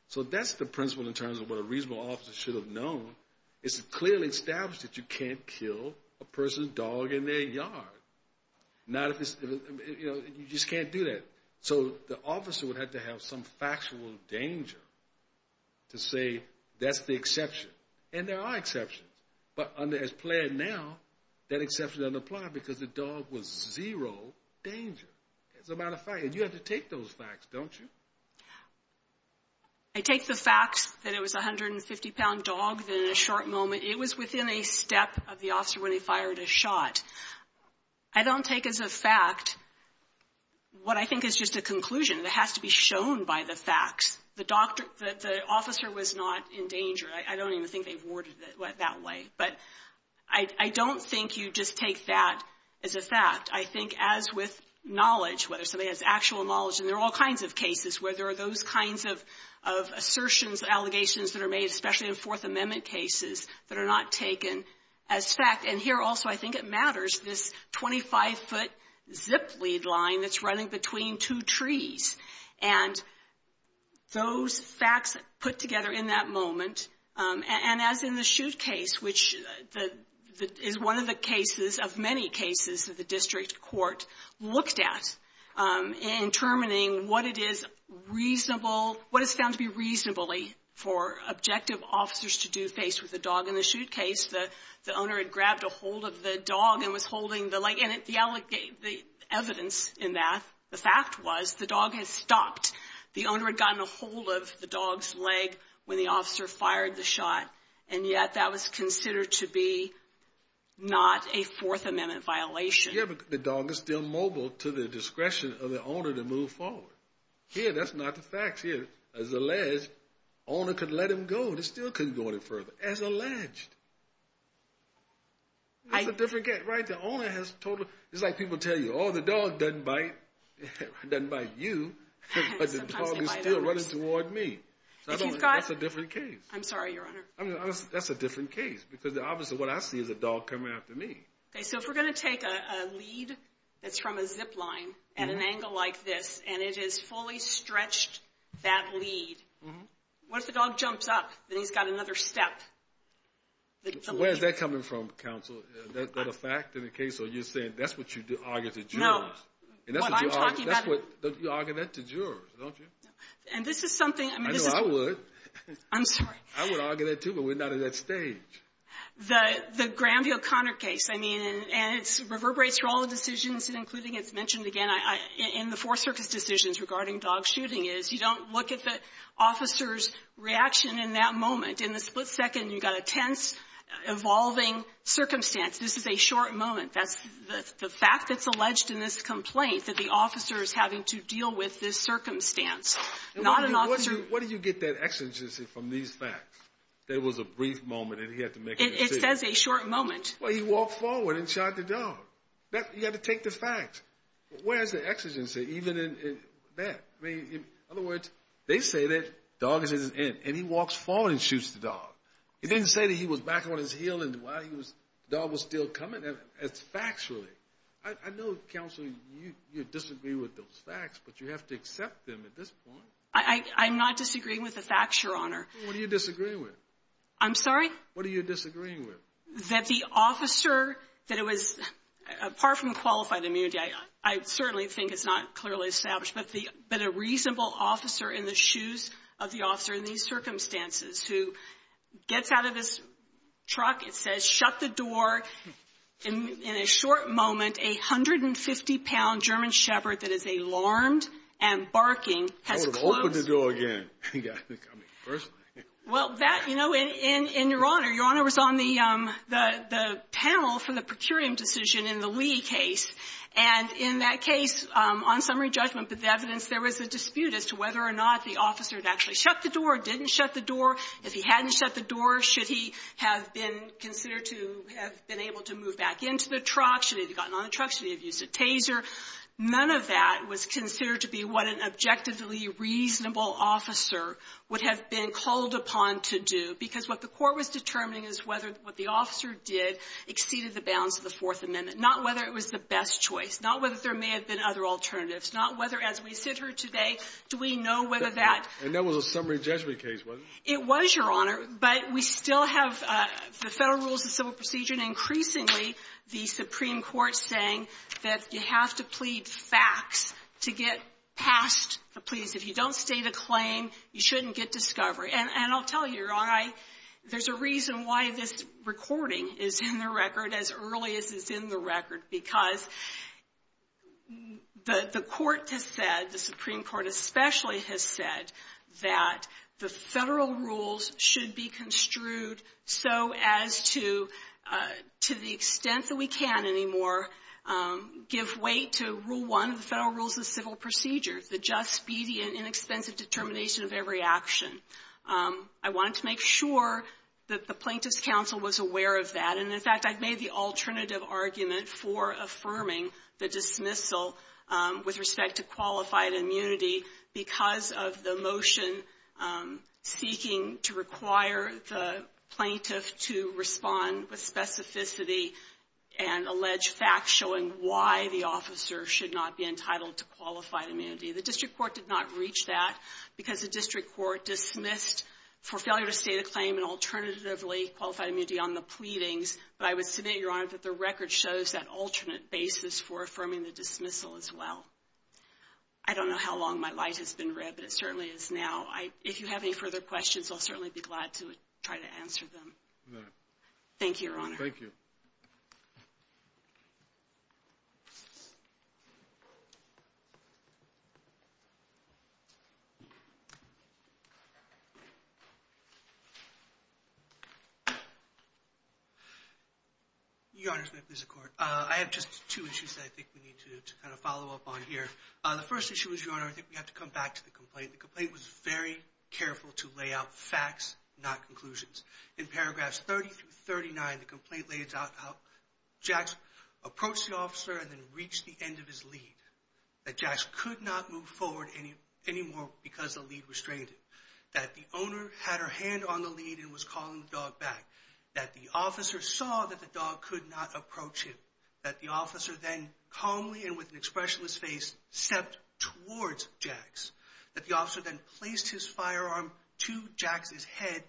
So that's the principle in terms of what a reasonable officer should have known. It's clearly established that you can't kill a person's dog in their yard. You just can't do that. So the officer would have to have some factual danger to say that's the exception. And there are exceptions. But as planned now, that exception doesn't apply because the dog was zero danger, as a matter of fact. And you have to take those facts, don't you? I take the facts that it was a 150-pound dog that in a short moment, it was within a step of the officer when he fired a shot. I don't take as a fact what I think is just a conclusion. It has to be shown by the facts. The officer was not in danger. I don't even think they've worded it that way. But I don't think you just take that as a fact. I think as with knowledge, whether somebody has actual knowledge, and there are all kinds of cases where there are those kinds of assertions, allegations that are made, especially in Fourth Amendment cases, that are not taken as fact. And here also, I think it matters, this 25-foot zip lead line that's running between two trees. And those facts put together in that moment, and as in the shoot case, which is one of the cases of many cases that the district court looked at in determining what it is reasonable, what is found to be reasonably for objective officers to do faced with a dog in the shoot case. The owner had grabbed a hold of the dog and was holding the leg, and the evidence in that, the fact was the dog had stopped. The owner had gotten a hold of the dog's leg when the officer fired the shot, and yet that was considered to be not a Fourth Amendment violation. The dog is still mobile to the discretion of the owner to move forward. Here, that's not the facts. Here, as alleged, the owner could let him go. They still couldn't go any further, as alleged. That's a different case, right? It's like people tell you, oh, the dog doesn't bite you, but it's probably still running toward me. That's a different case. I'm sorry, Your Honor. That's a different case because obviously what I see is a dog coming after me. Okay, so if we're going to take a lead that's from a zip line at an angle like this and it is fully stretched, that lead, what if the dog jumps up and he's got another step? Where is that coming from, counsel? Is that a fact in the case, or are you saying that's what you argue to jurors? No. That's what you argue to jurors, don't you? And this is something. I know, I would. I'm sorry. I would argue that too, but we're not at that stage. The Graham v. O'Connor case, I mean, and it reverberates through all the decisions, including it's mentioned again in the Fourth Circus decisions regarding dog shooting, is you don't look at the officer's reaction in that moment. In the split second, you've got a tense, evolving circumstance. This is a short moment. That's the fact that's alleged in this complaint, that the officer is having to deal with this circumstance, not an officer. What do you get that exigency from these facts? There was a brief moment and he had to make a decision. It says a short moment. Well, he walked forward and shot the dog. You've got to take the fact. Where is the exigency even in that? In other words, they say that dog is at his end, and he walks forward and shoots the dog. It didn't say that he was back on his heel and the dog was still coming. That's facts, really. I know, counsel, you disagree with those facts, but you have to accept them at this point. I'm not disagreeing with the facts, Your Honor. What are you disagreeing with? I'm sorry? What are you disagreeing with? That the officer, that it was, apart from qualified immunity, I certainly think it's not clearly established, but a reasonable officer in the shoes of the officer in these circumstances who gets out of his truck, it says, shut the door. In a short moment, a 150-pound German Shepherd that is alarmed and barking has closed. I would have opened the door again. Well, that, you know, and, Your Honor, Your Honor was on the panel for the procurium decision in the Lee case, and in that case, on summary judgment, the evidence there was a dispute as to whether or not the officer had actually shut the door, didn't shut the door. If he hadn't shut the door, should he have been considered to have been able to move back into the truck? Should he have gotten on the truck? Should he have used a taser? None of that was considered to be what an objectively reasonable officer would have been called upon to do, because what the court was determining is whether what the officer did exceeded the bounds of the Fourth Amendment. Not whether it was the best choice. Not whether there may have been other alternatives. Not whether, as we sit here today, do we know whether that — And that was a summary judgment case, wasn't it? It was, Your Honor. But we still have the Federal rules of civil procedure, and increasingly, the Supreme Court saying that you have to plead facts to get past the pleas. If you don't state a claim, you shouldn't get discovery. And I'll tell you, Your Honor, there's a reason why this recording is in the record as early as it's in the record, because the court has said, the Supreme Court especially has said, that the Federal rules should be given weight to rule one of the Federal rules of civil procedure, the just, speedy, and inexpensive determination of every action. I wanted to make sure that the Plaintiff's counsel was aware of that. And, in fact, I've made the alternative argument for affirming the dismissal with respect to qualified immunity because of the motion speaking to require the Plaintiff to respond with specificity and allege facts showing why the officer should not be entitled to qualified immunity. The District Court did not reach that because the District Court dismissed for failure to state a claim and alternatively qualified immunity on the pleadings. But I would submit, Your Honor, that the record shows that alternate basis for affirming the dismissal as well. I don't know how long my light has been red, but it certainly is now. If you have any further questions, I'll certainly be glad to try to answer them. Thank you, Your Honor. Thank you. Your Honor, I have just two issues that I think we need to follow up on here. The first issue is, Your Honor, I think we have to come back to the complaint. The complaint was very careful to lay out facts, not conclusions. In paragraphs 30 through 39, the complaint lays out how Jax approached the officer and then reached the end of his lead. That Jax could not move forward anymore because the lead restrained him. That the owner had her hand on the lead and was calling the dog back. That the officer saw that the dog could not approach him. That the officer then calmly and with an expressionless face stepped towards Jax. That the officer then placed his firearm to Jax's head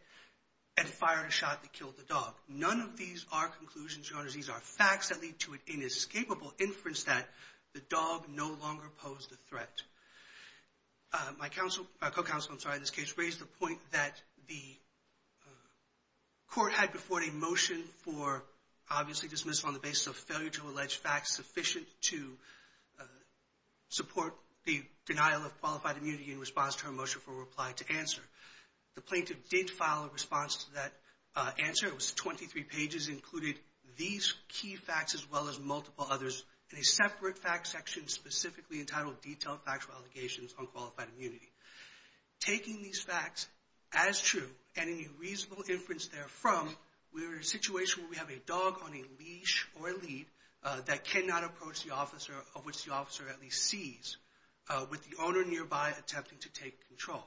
and fired a shot that killed the dog. None of these are conclusions, Your Honor. These are facts that lead to an inescapable inference that the dog no longer posed a threat. My co-counsel in this case raised the point that the court had before it a motion for obviously dismissal on the basis of failure to allege facts sufficient to support the denial of qualified immunity in response to her motion for reply to answer. The plaintiff did file a response to that answer. It was 23 pages, included these key facts as well as multiple others in a separate fact section specifically entitled Detailed Factual Allegations on Qualified Immunity. Taking these facts as true and any reasonable inference therefrom, we're in a situation where we have a dog on a leash or a lead that cannot approach the officer of which the officer at least sees with the owner nearby attempting to take control.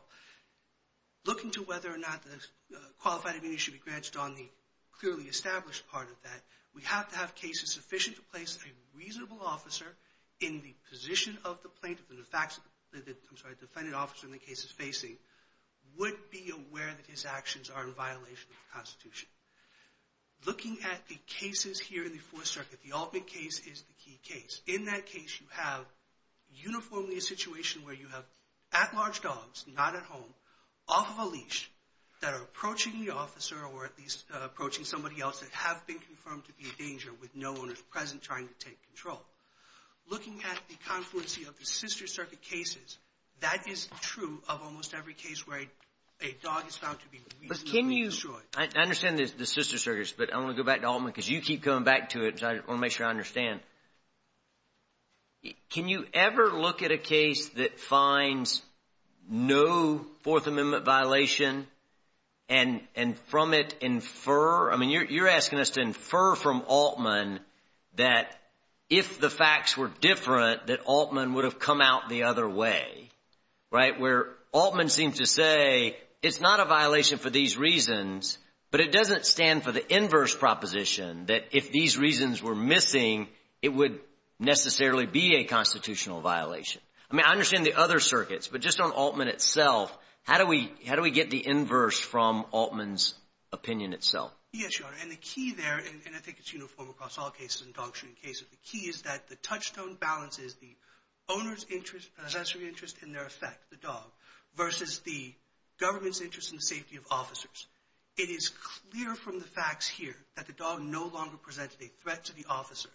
Looking to whether or not the qualified immunity should be branched on the clearly established part of that, we have to have cases sufficient to place a reasonable officer in the position of the plaintiff and the facts that the defendant officer in the case is facing would be aware that his actions are in violation of the Constitution. Looking at the cases here in the Fourth Circuit, the Altman case is the key case. In that case, you have uniformly a situation where you have at-large dogs, not at home, off of a leash that are approaching the officer or at least approaching somebody else that have been confirmed to be in danger with no owners present trying to take control. Looking at the confluency of the Sister Circuit cases, that is true of almost every case where a dog is found to be reasonably destroyed. I understand the Sister Circuit, but I want to go back to Altman because you keep coming back to it. I want to make sure I understand. Can you ever look at a case that finds no Fourth Amendment violation and from it infer? I mean, you're asking us to infer from Altman that if the facts were different, that Altman would have come out the other way, right? Where Altman seems to say it's not a violation for these reasons, but it doesn't stand for the inverse proposition that if these reasons were missing, it would necessarily be a constitutional violation. I mean, I understand the other circuits, but just on Altman itself, how do we get the inverse from Altman's opinion itself? Yes, Your Honor, and the key there, and I think it's uniform across all cases, in dog shooting cases, the key is that the touchstone balance is the owner's interest, a sensory interest in their effect, the dog, versus the government's interest in the safety of officers. It is clear from the facts here that the dog no longer presented a threat to the officer.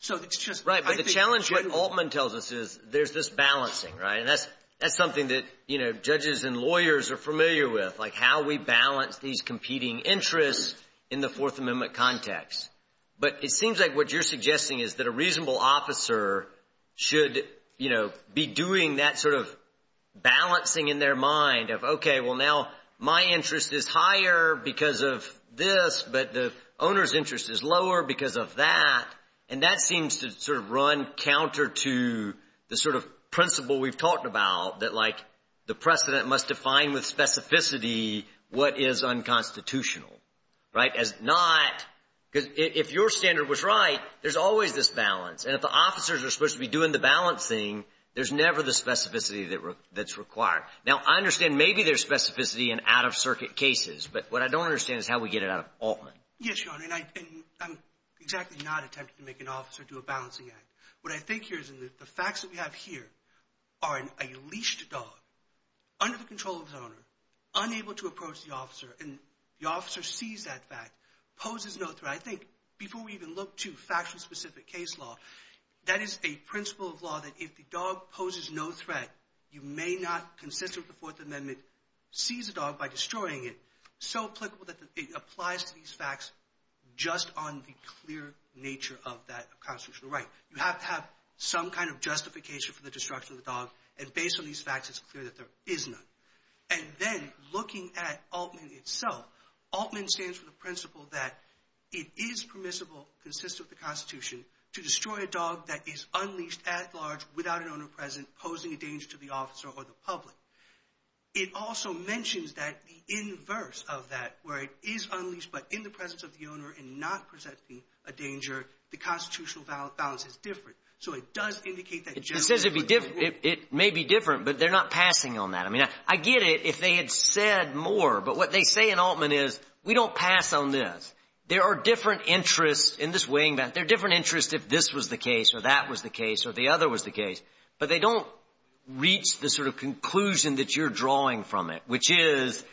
So it's just – Right, but the challenge that Altman tells us is there's this balancing, right? And that's something that, you know, judges and lawyers are familiar with, like how we balance these competing interests in the Fourth Amendment context. But it seems like what you're suggesting is that a reasonable officer should, you know, be doing that sort of balancing in their mind of, okay, well, now my interest is higher because of this, but the owner's interest is lower because of that, and that seems to sort of run counter to the sort of principle we've talked about, that, like, the precedent must define with specificity what is unconstitutional, right? As not – because if your standard was right, there's always this balance, and if the officers are supposed to be doing the balancing, there's never the specificity that's required. Now, I understand maybe there's specificity in out-of-circuit cases, but what I don't understand is how we get it out of Altman. Yes, Your Honor, and I'm exactly not attempting to make an officer do a balancing act. What I think here is that the facts that we have here are a leashed dog under the control of its owner, unable to approach the officer, and the officer sees that fact, poses no threat. I think, before we even look to factually specific case law, that is a principle of law that if the dog poses no threat, you may not, consistent with the Fourth Amendment, seize a dog by destroying it, so applicable that it applies to these facts just on the clear nature of that constitutional right. You have to have some kind of justification for the destruction of the dog, and based on these facts, it's clear that there is none. And then, looking at Altman itself, Altman stands for the principle that it is permissible, consistent with the Constitution, to destroy a dog that is unleashed at large without an owner present, posing a danger to the officer or the public. It also mentions that the inverse of that, where it is unleashed but in the presence of the owner and not presenting a danger, the constitutional balance is different. So it does indicate that generally— It says it may be different, but they're not passing on that. I mean, I get it if they had said more, but what they say in Altman is, we don't pass on this. There are different interests in this weighing back. There are different interests if this was the case or that was the case or the other was the case, but they don't reach the sort of conclusion that you're drawing from it, which is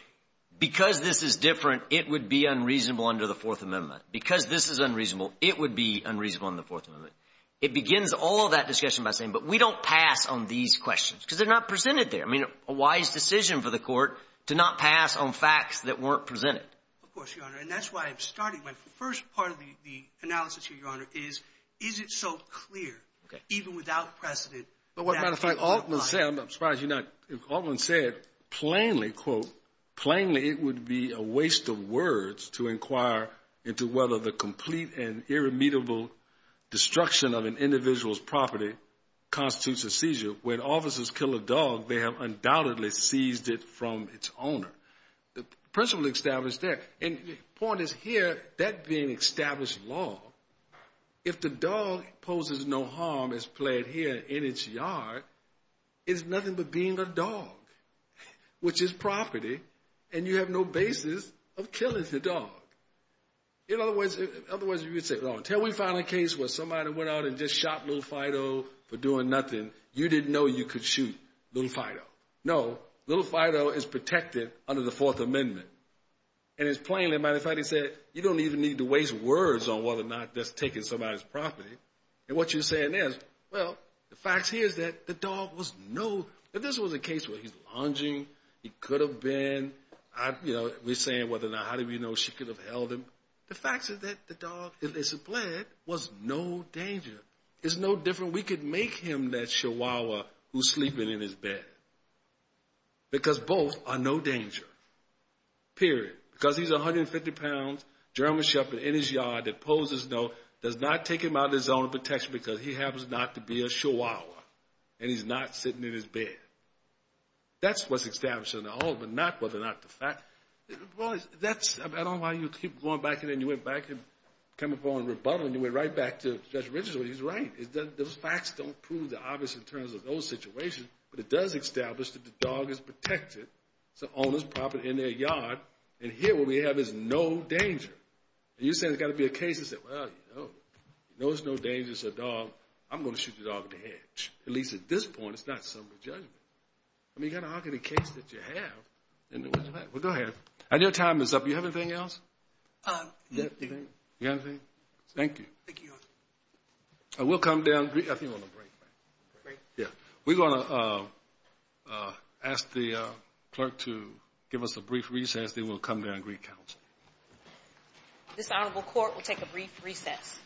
because this is different, it would be unreasonable under the Fourth Amendment. Because this is unreasonable, it would be unreasonable under the Fourth Amendment. It begins all of that discussion by saying, but we don't pass on these questions because they're not presented there. I mean, a wise decision for the court to not pass on facts that weren't presented. Of course, Your Honor, and that's why I'm starting. My first part of the analysis here, Your Honor, is, is it so clear, even without precedent— But as a matter of fact, Altman said—I'm surprised you're not—Altman said plainly, quote, plainly it would be a waste of words to inquire into whether the complete and irremediable destruction of an individual's property constitutes a seizure. When officers kill a dog, they have undoubtedly seized it from its owner. The principle established there, and the point is here, that being established law, if the dog poses no harm as pled here in its yard, it's nothing but being a dog, which is property, and you have no basis of killing the dog. In other words, you could say, until we found a case where somebody went out and just shot Little Fido for doing nothing, you didn't know you could shoot Little Fido. No, Little Fido is protected under the Fourth Amendment, and it's plainly, as a matter of fact, he said you don't even need to waste words on whether or not that's taken somebody's property. And what you're saying is, well, the fact here is that the dog was no—if this was a case where he's lunging, he could have been—you know, we're saying whether or not, how do we know she could have held him? The fact is that the dog, if it's a pled, was no danger. It's no different. We could make him that chihuahua who's sleeping in his bed because both are no danger, period, because he's a 150-pound German shepherd in his yard that poses no—does not take him out of his own protection because he happens not to be a chihuahua, and he's not sitting in his bed. That's what's established in the Old Amendment, not whether or not the fact— Well, that's—I don't know why you keep going back and then you went back and come upon rebuttal, and you went right back to Judge Richardson when he was right. Those facts don't prove the obvious in terms of those situations, but it does establish that the dog is protected. It's the owner's property in their yard, and here what we have is no danger. And you're saying there's got to be a case that says, well, you know, there's no danger. It's a dog. I'm going to shoot the dog in the head. At least at this point, it's not summary judgment. I mean, you've got to argue the case that you have. Well, go ahead. I know time is up. Do you have anything else? Yeah, I do. You have anything? Thank you. Thank you, Your Honor. We'll come down—I think we're on a break. Break? Yeah. We're going to ask the clerk to give us a brief recess, then we'll come down and recount. This Honorable Court will take a brief recess.